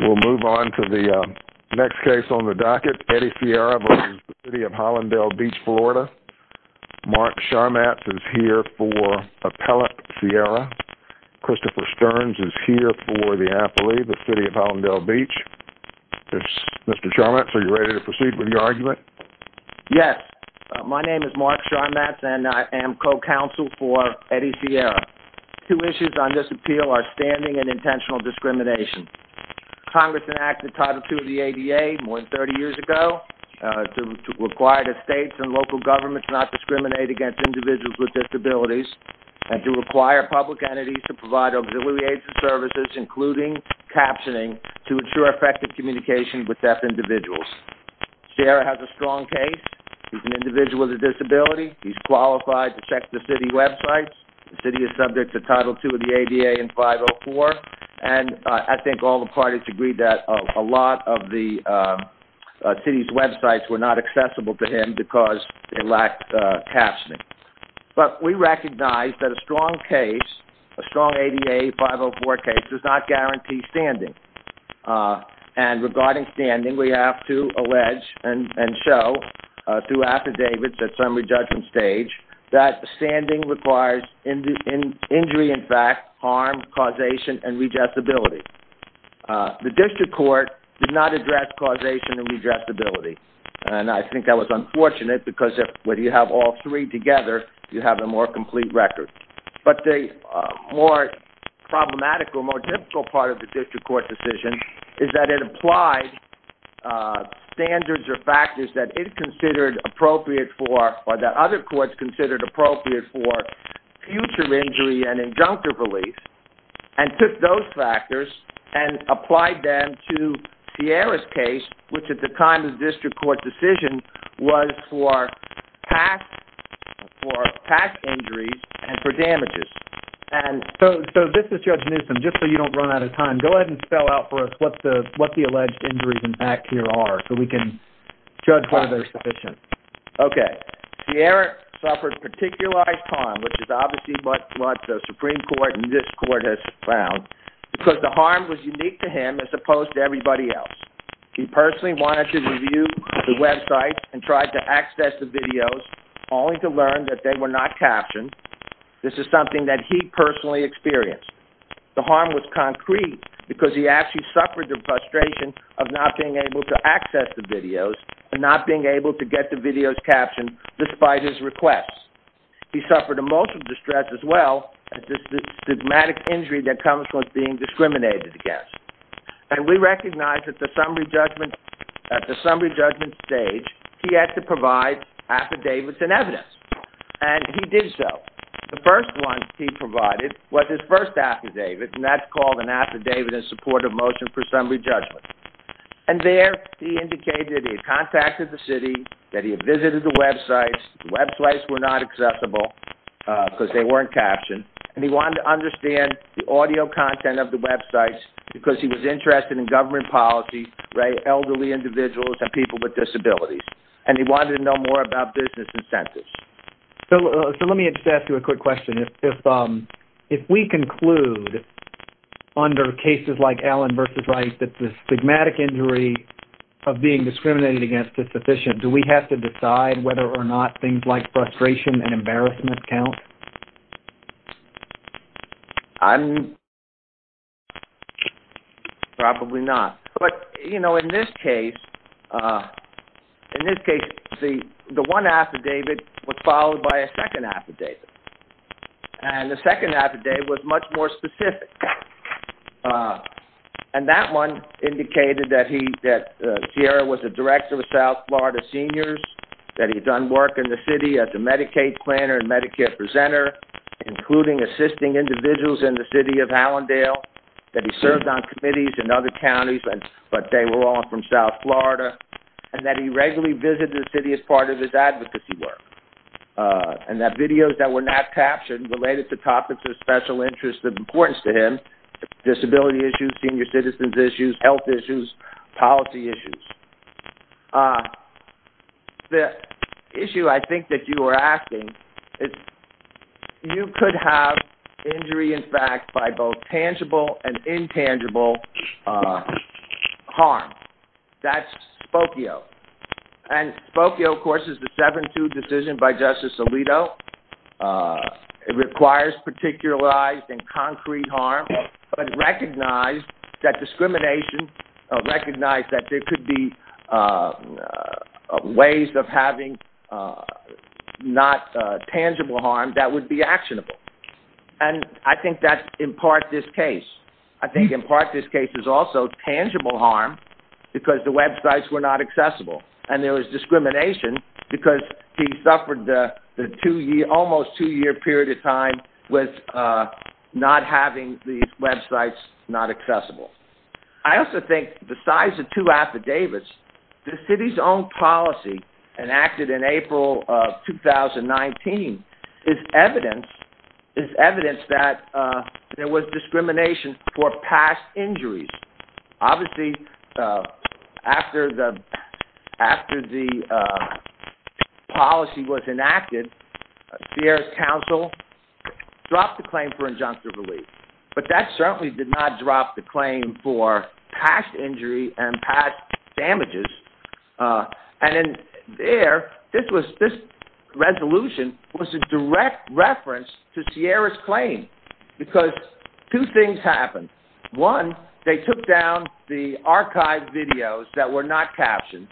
We'll move on to the next case on the docket, Eddie Sierra v. City of Hallandale Beach, Florida. Mark Sharmatz is here for appellate Sierra. Christopher Stearns is here for the athlete, the City of Hallandale Beach. Mr. Sharmatz, are you ready to proceed with your argument? Yes. My name is Mark Sharmatz and I am co-counsel for Eddie Sierra. Two issues on this appeal are standing and intentional discrimination. Congress enacted Title II of the ADA more than 30 years ago to require that states and local governments not discriminate against individuals with disabilities and to require public entities to provide auxiliary aids and services including captioning to ensure effective communication with deaf individuals. Sierra has a strong case. He's an individual with a disability. He's qualified to check the city websites. The city is subject to Title II of the ADA in 504 and I think all the parties agree that a lot of the city's websites were not accessible to him because they lacked captioning. But we recognize that a strong case, a strong ADA 504 case does not guarantee standing. And regarding standing, we have to allege and show through affidavits at summary judgment stage that standing requires injury in fact, harm, causation and redressability. The district court did not address causation and redressability. And I think that was unfortunate because when you have all three together, you have a more complete record. But the more problematic or more difficult part of the district court decision is that it applied standards or factors that it considered appropriate for or that other courts considered appropriate for future injury and injunctive release and took those factors and applied them to Sierra's case which at the time of the district court decision was for past injuries and for damages. And so this is Judge Newsom, just so you don't run out of time, go ahead and spell out for us what the alleged injuries in fact here are so we can judge whether they're sufficient. Okay. Sierra suffered particularized harm which is obviously what the Supreme Court and this court has found because the harm was unique to him as opposed to everybody else. He personally wanted to review the website and tried to access the videos only to learn that they were not captioned. This is something that he personally experienced. The harm was concrete because he actually suffered the frustration of not being able to access the videos and not being able to get the videos captioned despite his requests. He suffered emotional distress as well as the stigmatic injury that comes with being discriminated against. And we recognize that at the summary judgment stage, he had to provide affidavits and evidence. And he did so. The first one he provided was his first affidavit and that's called an Affidavit in Support of Motion for Summary Judgment. And there he indicated he had contacted the city, that he had visited the websites, the websites were not accessible because they weren't captioned, and he wanted to understand the audio content of the websites because he was interested in government policy, elderly individuals, and people with disabilities. And he wanted to know more about business incentives. So let me just ask you a quick question. If we conclude under cases like Allen v. Wright that the stigmatic injury of being discriminated against is sufficient, do we have to decide whether or not things like frustration and embarrassment count? I'm probably not. But, you know, in this case, the one affidavit was followed by a second affidavit. And the second affidavit was much more specific. And that one indicated that Sierra was the director of South Florida Seniors, that he'd done work in the city as a Medicaid planner and Medicare presenter, including assisting individuals in the city of Allendale, that he served on committees in other counties, but they were all from South Florida, and that he regularly visited the city as part of his advocacy work. And that videos that were not captioned related to topics of special interest of importance to him, disability issues, senior citizens' issues, health issues, policy issues. The issue, I think, that you were asking is you could have injury, in fact, by both tangible and intangible harm. That's Spokio. And Spokio, of course, is the 7-2 decision by Justice Alito. It requires particularized and concrete harm, but recognized that discrimination, recognized that there could be ways of having not tangible harm that would be actionable. And I think that's, in part, this case. I think, in part, this case is also tangible harm because the websites were not accessible. And there was discrimination because he suffered the almost two-year period of time with not having these websites not accessible. I also think, besides the two affidavits, the city's own policy enacted in April of 2019 is evidence that there was discrimination for past injuries. Obviously, after the policy was enacted, Sierra's council dropped the claim for injunctive relief. But that certainly did not drop the claim for past injury and past damages. And in there, this resolution was a direct reference to Sierra's claim because two things happened. One, they took down the archived videos that were not captioned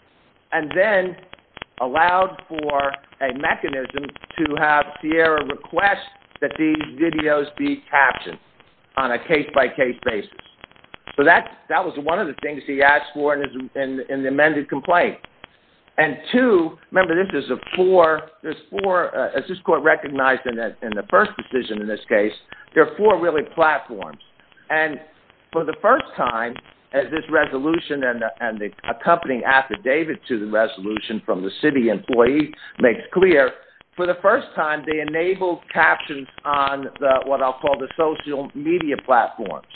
and then allowed for a mechanism to have Sierra request that these videos be captioned on a case-by-case basis. So that was one of the things he asked for in the amended complaint. And two, remember, there's four, as this court recognized in the first decision in this case, there are four really platforms. And for the first time, as this resolution and the accompanying affidavit to the resolution from the city employee makes clear, for the first time, they enabled captions on what I'll call the social media platforms.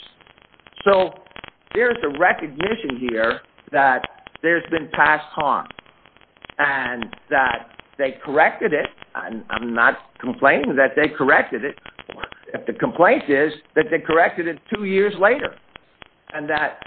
So there's a recognition here that there's been past harm and that they corrected it. I'm not complaining that they corrected it. The complaint is that they corrected it two years later and that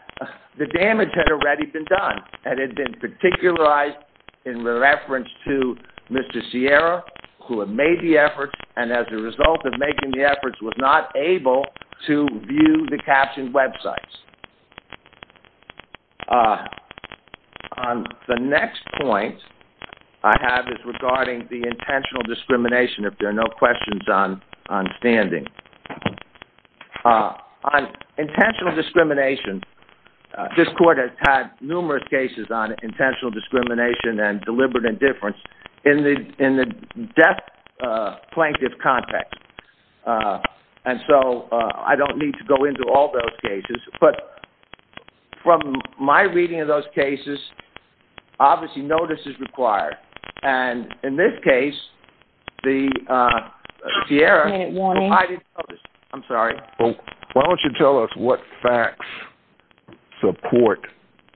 the damage had already been done and had been particularized in reference to Mr. Sierra who had made the efforts and as a result of making the efforts was not able to view the captioned websites. The next point I have is regarding the intentional discrimination. If there are no questions on standing. On intentional discrimination, this court has had numerous cases on intentional discrimination and deliberate indifference in the death plaintiff context. And so I don't need to go into all those cases. But from my reading of those cases, obviously notice is required. And in this case, the Sierra... I'm sorry. Why don't you tell us what facts support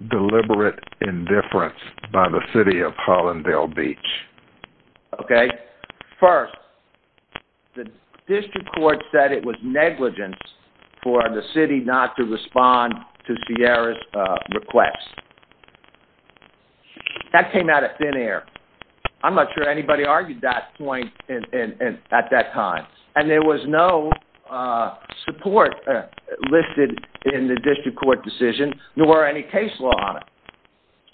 deliberate indifference by the city of Hollanddale Beach? Okay. First, the district court said it was negligence for the city not to respond to Sierra's request. That came out of thin air. I'm not sure anybody argued that point at that time. And there was no support listed in the district court decision nor any case law on it.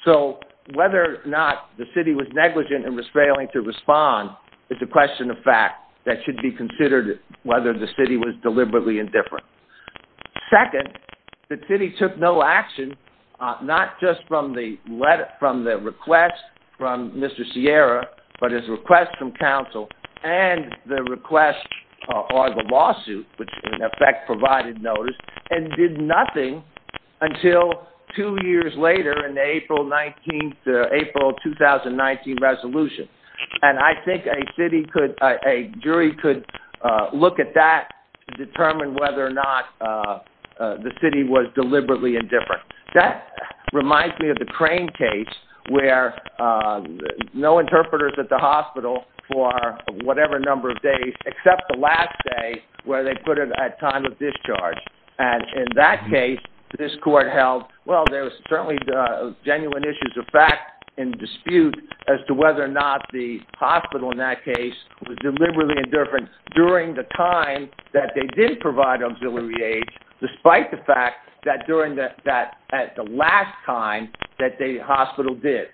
So whether or not the city was negligent and was failing to respond is a question of fact that should be considered whether the city was deliberately indifferent. Second, the city took no action not just from the request from Mr. Sierra but his request from council and the request or the lawsuit, which in effect provided notice, and did nothing until two years later in the April 2019 resolution. And I think a jury could look at that to determine whether or not the city was deliberately indifferent. That reminds me of the Crane case where no interpreters at the hospital for whatever number of days except the last day where they put it at time of discharge. And in that case, this court held, well, there was certainly genuine issues of fact and dispute as to whether or not the hospital in that case was deliberately indifferent during the time that they did provide auxiliary aid despite the fact that during the last time that the hospital did.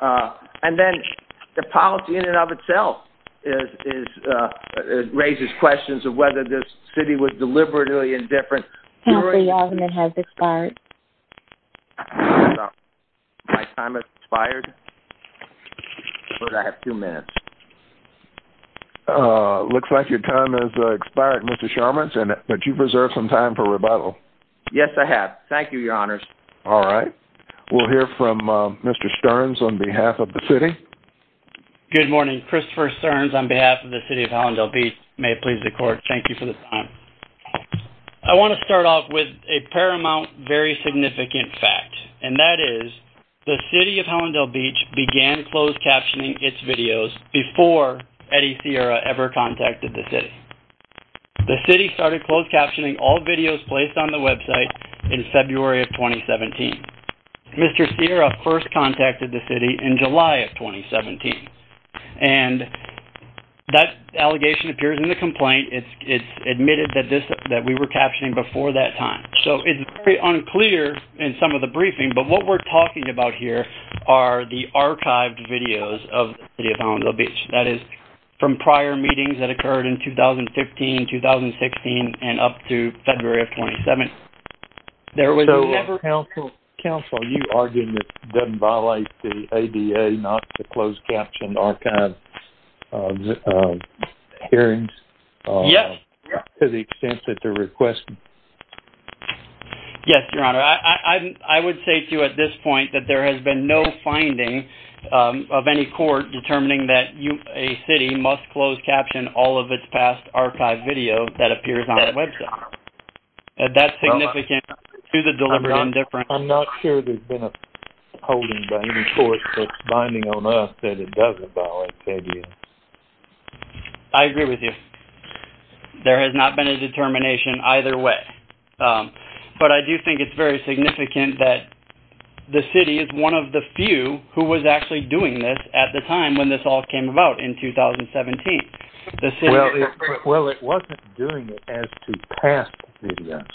And then the policy in and of itself raises questions of whether the city was deliberately indifferent. Council, your time has expired. My time has expired? I have two minutes. Looks like your time has expired, Mr. Sharma, but you've reserved some time for rebuttal. Yes, I have. Thank you, Your Honors. All right. We'll hear from Mr. Stearns on behalf of the city. Good morning. Christopher Stearns on behalf of the city of Hallandale Beach. May it please the court, thank you for this time. I want to start off with a paramount, very significant fact, and that is the city of Hallandale Beach began closed captioning its videos before Eddie Sierra ever contacted the city. The city started closed captioning all videos placed on the website in February of 2017. Mr. Sierra first contacted the city in July of 2017, and that allegation appears in the complaint. It's admitted that we were captioning before that time. So it's very unclear in some of the briefing, but what we're talking about here are the archived videos of the city of Hallandale Beach. That is, from prior meetings that occurred in 2015, 2016, and up to February of 2017. So, counsel, you argue that it doesn't violate the ADA not to close caption archived hearings? Yes. To the extent that they're requested? Yes, Your Honor. I would say to you at this point that there has been no finding of any court determining that a city must close caption all of its past archived video that appears on the website. That's significant to the deliberate indifference. I'm not sure there's been a holding by any court that's binding on us that it doesn't violate the ADA. I agree with you. There has not been a determination either way. But I do think it's very significant to the extent that the city is one of the few who was actually doing this at the time when this all came about in 2017. Well, it wasn't doing it as to pass the ADS.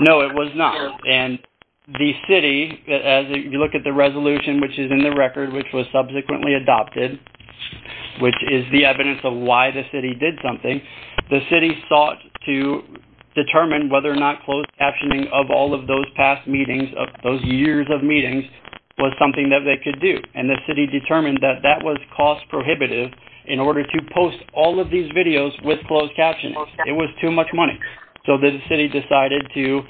No, it was not. And the city, as you look at the resolution, which is in the record, which was subsequently adopted, which is the evidence of why the city did something, the city sought to determine whether or not closed captioning of all of those past meetings, of those years of meetings, was something that they could do. And the city determined that that was cost prohibitive in order to post all of these videos with closed captioning. It was too much money. So the city decided to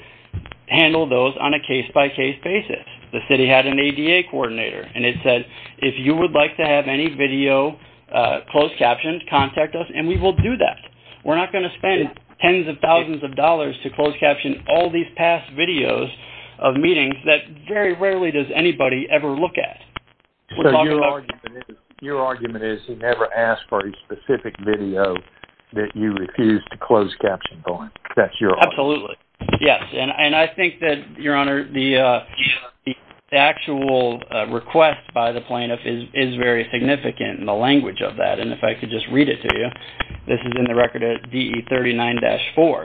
handle those on a case-by-case basis. The city had an ADA coordinator, and it said, if you would like to have any video closed captioned, contact us, and we will do that. We're not going to spend tens of thousands of dollars to closed caption all these past videos of meetings that very rarely does anybody ever look at. So your argument is he never asked for a specific video that you refused to closed caption on. Absolutely. Yes. And I think that, Your Honor, the actual request by the plaintiff is very significant in the language of that, and if I could just read it to you. This is in the record at DE 39-4.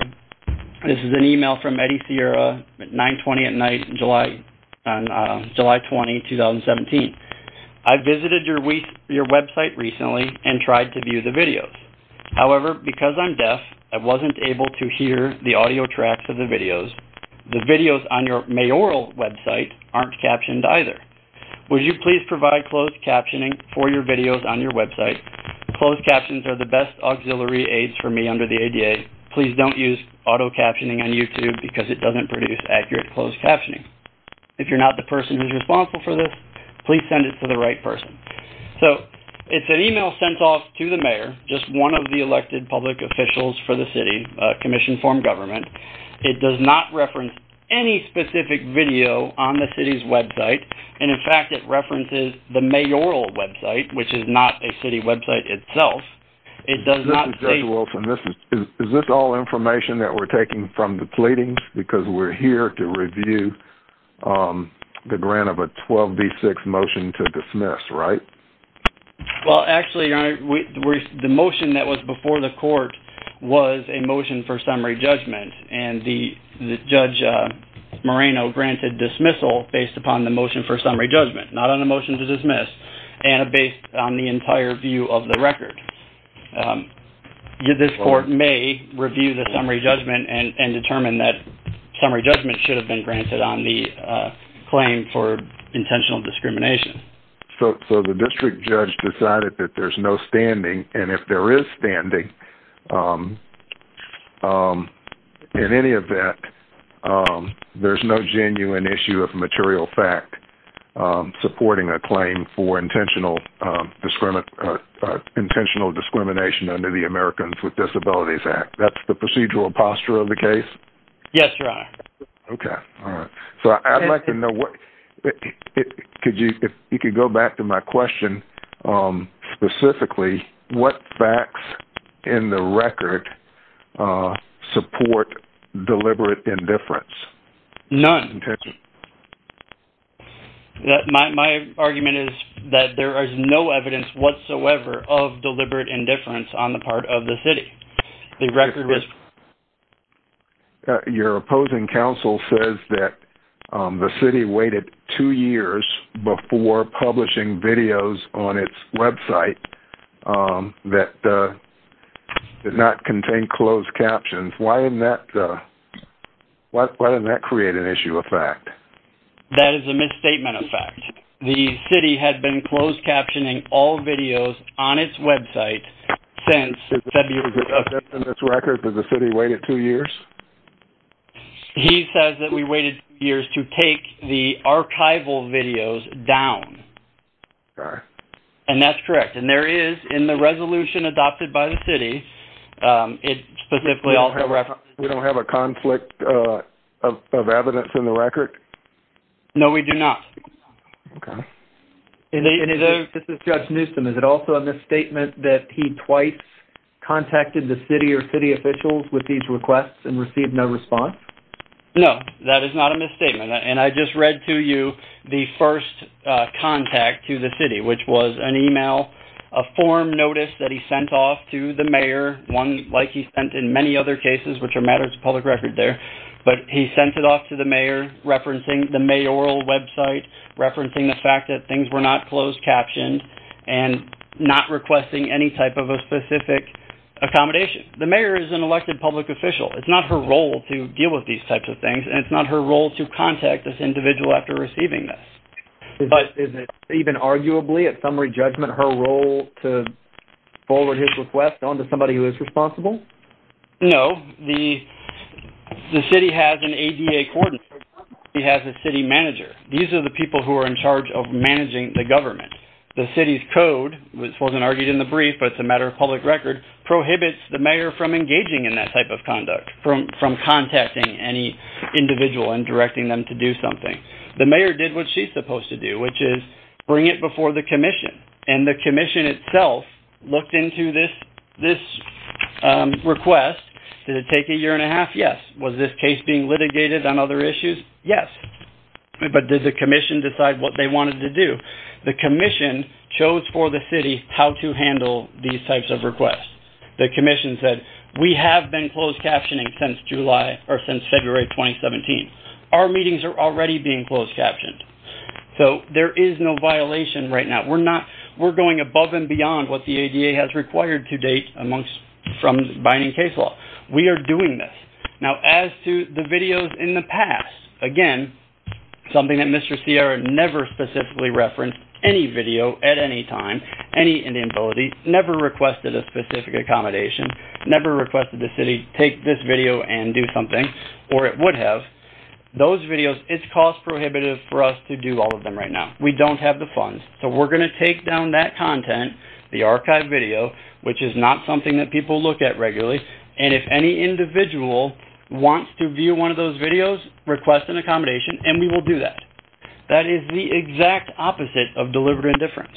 This is an email from Eddie Sierra, 920 at night, July 20, 2017. I visited your website recently and tried to view the videos. However, because I'm deaf, I wasn't able to hear the audio tracks of the videos. The videos on your mayoral website aren't captioned either. Would you please provide closed captioning for your videos on your website? Closed captions are the best auxiliary aids for me under the ADA. Please don't use auto-captioning on YouTube because it doesn't produce accurate closed captioning. If you're not the person who's responsible for this, please send it to the right person. So it's an email sent off to the mayor, just one of the elected public officials for the city, commission form government. It does not reference any specific video on the city's website, and, in fact, it references the mayoral website, which is not a city website itself. This is Judge Wilson. Is this all information that we're taking from the pleadings because we're here to review the grant of a 12B6 motion to dismiss, right? Well, actually, Your Honor, the motion that was before the court was a motion for summary judgment, and Judge Moreno granted dismissal based upon the motion for summary judgment, not on the motion to dismiss, and based on the entire view of the record. This court may review the summary judgment and determine that summary judgment should have been granted on the claim for intentional discrimination. So the district judge decided that there's no standing, and if there is standing, in any event, there's no genuine issue of material fact supporting a claim for intentional discrimination under the Americans with Disabilities Act. That's the procedural posture of the case? Yes, Your Honor. Okay. All right. So I'd like to know what... If you could go back to my question specifically, what facts in the record support deliberate indifference? None. My argument is that there is no evidence whatsoever of deliberate indifference on the part of the city. Your opposing counsel says that the city waited two years before publishing videos on its website that did not contain closed captions. Why didn't that create an issue of fact? That is a misstatement of fact. The city had been closed captioning all videos on its website since February. In this record, did the city wait two years? He says that we waited two years to take the archival videos down. Okay. And that's correct. And there is, in the resolution adopted by the city, it specifically also references... We don't have a conflict of evidence in the record? No, we do not. Okay. This is Judge Newsom. Is it also a misstatement that he twice contacted the city or city officials with these requests and received no response? No, that is not a misstatement. And I just read to you the first contact to the city, which was an email, a form notice that he sent off to the mayor, one like he sent in many other cases, which are matters of public record there, but he sent it off to the mayor referencing the mayoral website, referencing the fact that things were not closed captioned and not requesting any type of a specific accommodation. The mayor is an elected public official. It's not her role to deal with these types of things, and it's not her role to contact this individual after receiving this. Is it even arguably, at summary judgment, her role to forward his request on to somebody who is responsible? No. The city has an ADA coordinator. The city has a city manager. These are the people who are in charge of managing the government. The city's code, which wasn't argued in the brief, but it's a matter of public record, prohibits the mayor from engaging in that type of conduct, from contacting any individual and directing them to do something. The mayor did what she's supposed to do, which is bring it before the commission, and the commission itself looked into this request. Did it take a year and a half? Yes. Was this case being litigated on other issues? Yes. But did the commission decide what they wanted to do? The commission chose for the city how to handle these types of requests. The commission said, we have been closed captioning since February 2017. Our meetings are already being closed captioned. So there is no violation right now. We're going above and beyond what the ADA has required to date from binding case law. We are doing this. Now, as to the videos in the past, again, something that Mr. Sierra never specifically referenced, any video at any time, any inability, never requested a specific accommodation, never requested the city take this video and do something, or it would have, those videos, it's cost prohibitive for us to do all of them right now. We don't have the funds. So we're going to take down that content, the archived video, which is not something that people look at regularly, and if any individual wants to view one of those videos, request an accommodation, and we will do that. That is the exact opposite of deliberate indifference.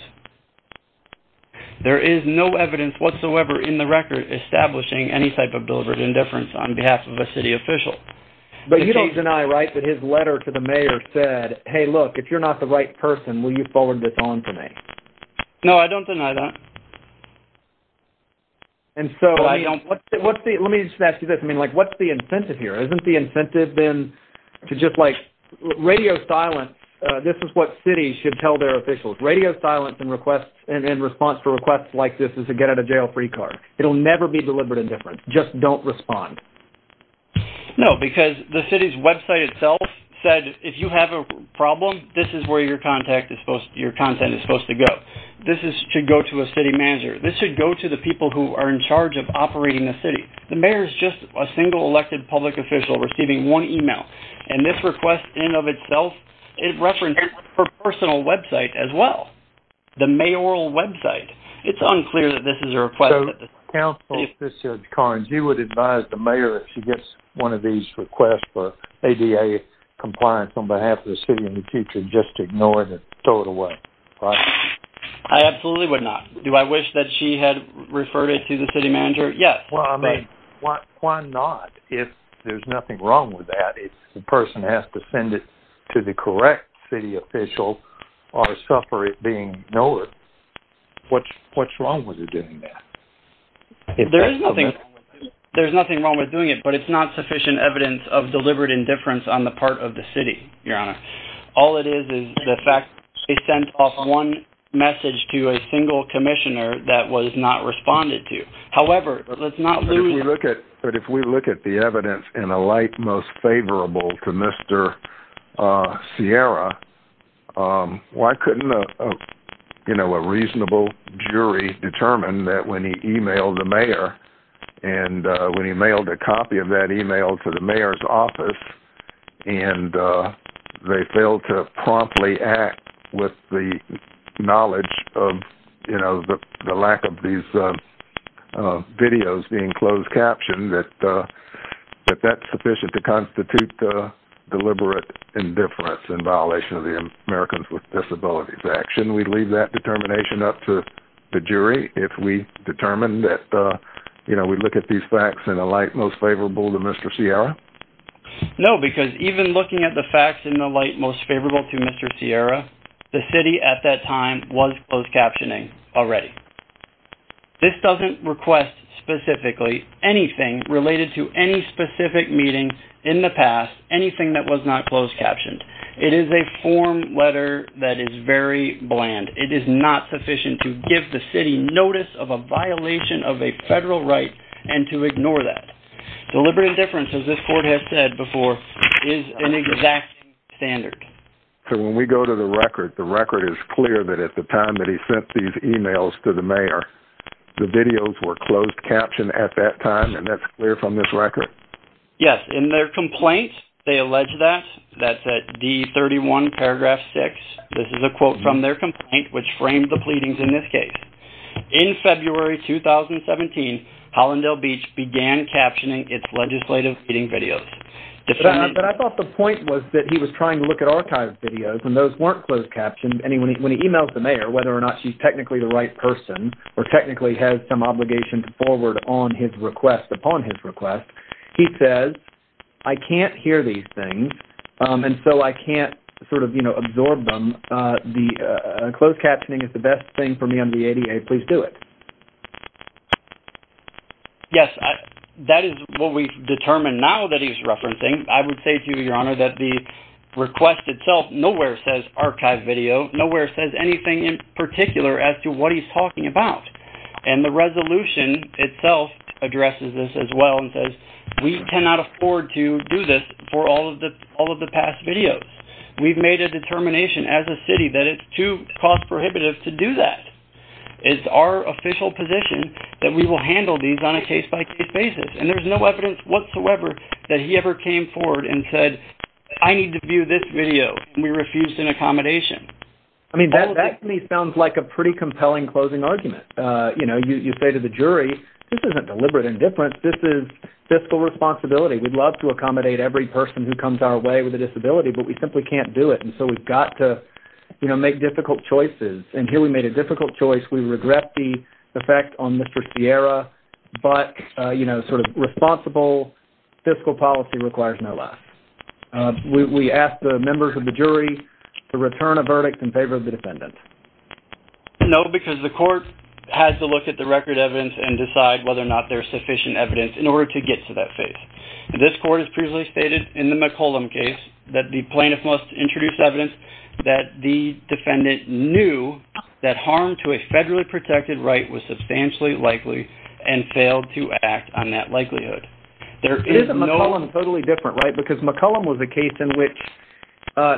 There is no evidence whatsoever in the record establishing any type of deliberate indifference on behalf of a city official. But you don't deny, right, that his letter to the mayor said, hey, look, if you're not the right person, will you forward this on to me? No, I don't deny that. And so what's the incentive here? Isn't the incentive then to just, like, radio silence, this is what cities should tell their officials, radio silence in response to requests like this is a get-out-of-jail-free card. It will never be deliberate indifference. Just don't respond. No, because the city's website itself said, if you have a problem, this is where your content is supposed to go. This should go to a city manager. This should go to the people who are in charge of operating the city. The mayor is just a single elected public official receiving one email, and this request in and of itself, it referenced her personal website as well, the mayoral website. It's unclear that this is a request. So, counsel, if this is Karnes, you would advise the mayor, if she gets one of these requests for ADA compliance on behalf of the city in the future, just to ignore it and throw it away, right? I absolutely would not. Do I wish that she had referred it to the city manager? Yes. Well, I mean, why not? If there's nothing wrong with that, if the person has to send it to the correct city official or suffer it being ignored, what's wrong with her doing that? There's nothing wrong with doing it, but it's not sufficient evidence of deliberate indifference on the part of the city, Your Honor. All it is is the fact they sent off one message to a single commissioner that was not responded to. However, let's not lose that. But if we look at the evidence in a light most favorable to Mr. Sierra, why couldn't a reasonable jury determine that when he emailed the mayor and when he mailed a copy of that email to the mayor's office and they failed to promptly act with the knowledge of the lack of these videos being closed captioned, that that's sufficient to constitute deliberate indifference in violation of the Americans with Disabilities Act? Shouldn't we leave that determination up to the jury if we determine that we look at these facts in a light most favorable to Mr. Sierra? No, because even looking at the facts in a light most favorable to Mr. Sierra, the city at that time was closed captioning already. This doesn't request specifically anything related to any specific meeting in the past, anything that was not closed captioned. It is a form letter that is very bland. It is not sufficient to give the city notice of a violation of a federal right and to ignore that. Deliberate indifference, as this court has said before, is an exact standard. So when we go to the record, the record is clear that at the time that he sent these emails to the mayor, the videos were closed captioned at that time, and that's clear from this record? Yes. In their complaint, they allege that. That's at D31, paragraph 6. This is a quote from their complaint, which framed the pleadings in this case. In February 2017, Hollandale Beach began captioning its legislative meeting videos. But I thought the point was that he was trying to look at archived videos, and those weren't closed captioned. And when he emails the mayor, whether or not she's technically the right person or technically has some obligation to forward on his request, upon his request, he says, I can't hear these things, and so I can't sort of, you know, absorb them. Closed captioning is the best thing for me. I'm the ADA. Please do it. Yes, that is what we've determined now that he's referencing. I would say to you, Your Honor, that the request itself nowhere says archived video. Nowhere says anything in particular as to what he's talking about. And the resolution itself addresses this as well and says, we cannot afford to do this for all of the past videos. We've made a determination as a city that it's too cost prohibitive to do that. It's our official position that we will handle these on a case-by-case basis. And there's no evidence whatsoever that he ever came forward and said, I need to view this video, and we refused an accommodation. I mean, that to me sounds like a pretty compelling closing argument. You know, you say to the jury, this isn't deliberate indifference. This is fiscal responsibility. We'd love to accommodate every person who comes our way with a disability, but we simply can't do it, and so we've got to, you know, make difficult choices. And here we made a difficult choice. We regret the effect on Mr. Sierra, but, you know, sort of responsible fiscal policy requires no less. We ask the members of the jury to return a verdict in favor of the defendant. No, because the court has to look at the record evidence and decide whether or not there's sufficient evidence in order to get to that phase. This court has previously stated in the McCollum case that the plaintiff must introduce evidence that the defendant knew that harm to a federally protected right was substantially likely and failed to act on that likelihood. It is a McCollum totally different, right? Because McCollum was a case in which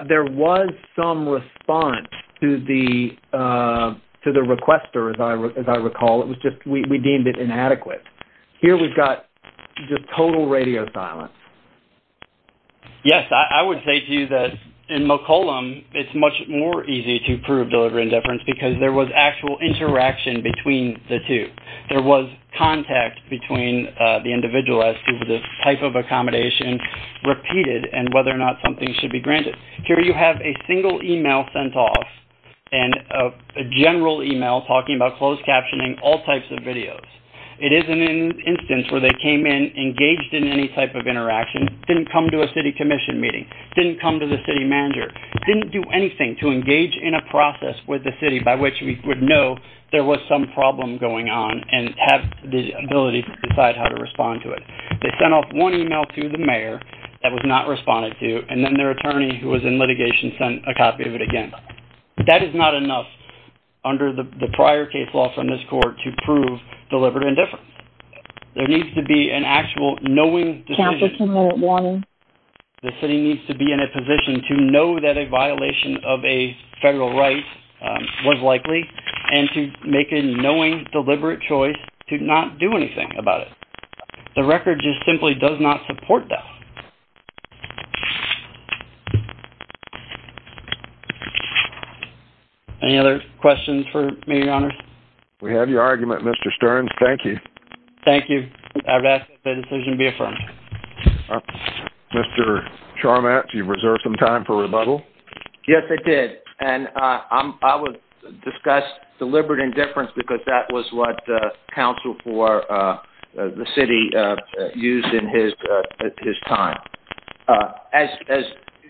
there was some response to the requester, as I recall. It was just we deemed it inadequate. Here we've got just total radio silence. Yes, I would say to you that in McCollum, it's much more easy to prove deliberate indifference because there was actual interaction between the two. There was contact between the individual as to the type of accommodation repeated and whether or not something should be granted. Here you have a single email sent off and a general email talking about closed captioning all types of videos. It is an instance where they came in, engaged in any type of interaction, didn't come to a city commission meeting, didn't come to the city manager, didn't do anything to engage in a process with the city by which we would know there was some problem going on and have the ability to decide how to respond to it. They sent off one email to the mayor that was not responded to and then their attorney who was in litigation sent a copy of it again. That is not enough under the prior case law from this court to prove deliberate indifference. There needs to be an actual knowing decision. The city needs to be in a position to know that a violation of a federal right was likely and to make a knowing, deliberate choice to not do anything about it. The record just simply does not support that. Any other questions for me, Your Honor? We have your argument, Mr. Stearns. Thank you. Thank you. I would ask that the decision be affirmed. Mr. Charmatt, do you reserve some time for rebuttal? Yes, I did. I would discuss deliberate indifference because that was what the council for the city used in his time. As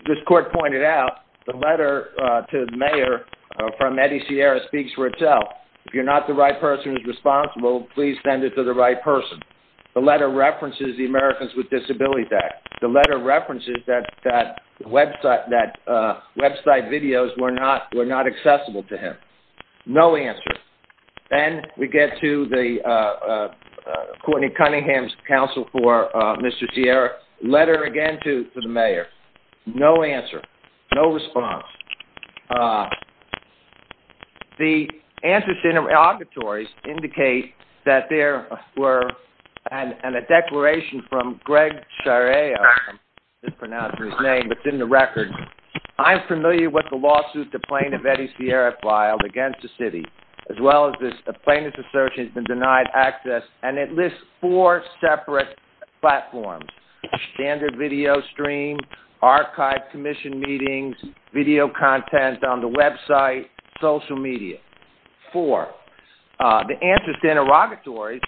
this court pointed out, the letter to the mayor from Eddie Sierra speaks for itself. If you are not the right person who is responsible, please send it to the right person. The letter references the Americans with Disabilities Act. The letter references that website videos were not accessible to him. No answer. Then we get to Courtney Cunningham's counsel for Mr. Sierra. Letter again to the mayor. No answer. No response. The answers to the interrogatories indicate that there were and a declaration from Greg Shirea, I'm mispronouncing his name, but it's in the record. I'm familiar with the lawsuit the plaintiff Eddie Sierra filed against the city, as well as the plaintiff's assertion has been denied access, and it lists four separate platforms. Standard video stream, archived commission meetings, video content on the website, social media. Four. The answers to interrogatories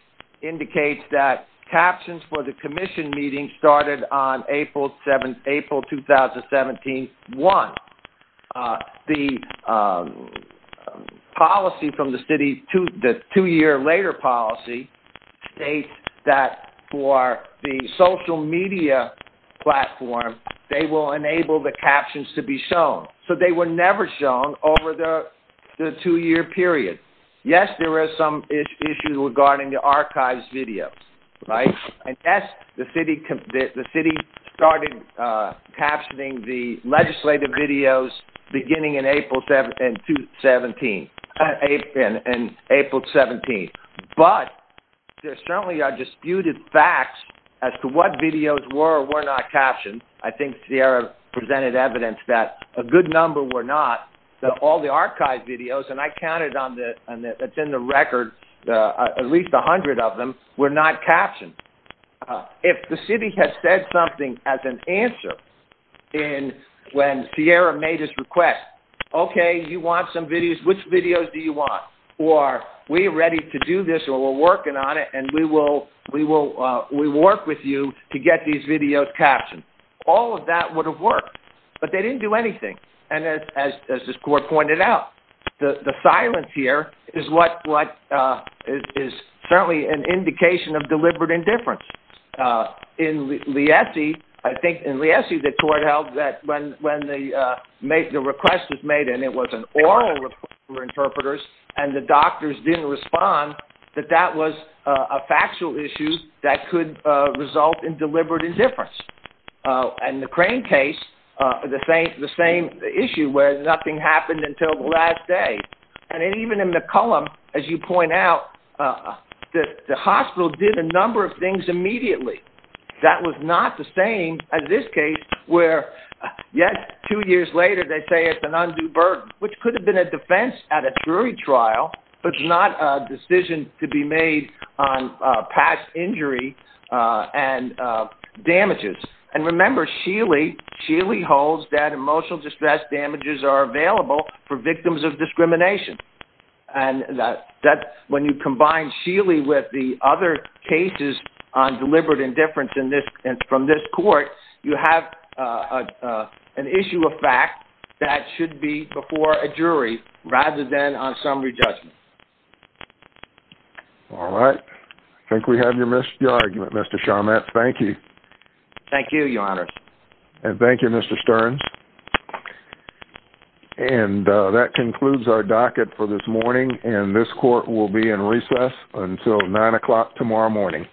indicate that captions for the commission meetings started on April 2017, one. The policy from the city, the two-year later policy, states that for the social media platform, they will enable the captions to be shown. So they were never shown over the two-year period. Yes, there were some issues regarding the archived videos, right? And yes, the city started captioning the legislative videos beginning in April 2017. But there certainly are disputed facts as to what videos were or were not captioned. I think Sierra presented evidence that a good number were not, that all the archived videos, and I counted on the, it's in the record, at least 100 of them, were not captioned. If the city has said something as an answer when Sierra made this request, okay, you want some videos, which videos do you want? Or we are ready to do this, or we're working on it, and we will work with you to get these videos captioned. All of that would have worked, but they didn't do anything. And as this court pointed out, the silence here is certainly an indication of deliberate indifference. In Liesi, I think in Liesi, the court held that when the request was made, and it was an oral request for interpreters, and the doctors didn't respond, that that was a factual issue that could result in deliberate indifference. In the Crane case, the same issue where nothing happened until the last day. And even in McCollum, as you point out, the hospital did a number of things immediately. That was not the same as this case where, yes, two years later, they say it's an undue burden, which could have been a defense at a jury trial, but it's not a decision to be made on past injury and damages. And remember, Sheely holds that emotional distress damages are available for victims of discrimination. And when you combine Sheely with the other cases on deliberate indifference from this court, you have an issue of fact that should be before a jury rather than on summary judgment. All right. I think we have your argument, Mr. Charmette. Thank you. Thank you, Your Honor. And thank you, Mr. Stearns. And that concludes our docket for this morning. And this court will be in recess until 9 o'clock tomorrow morning.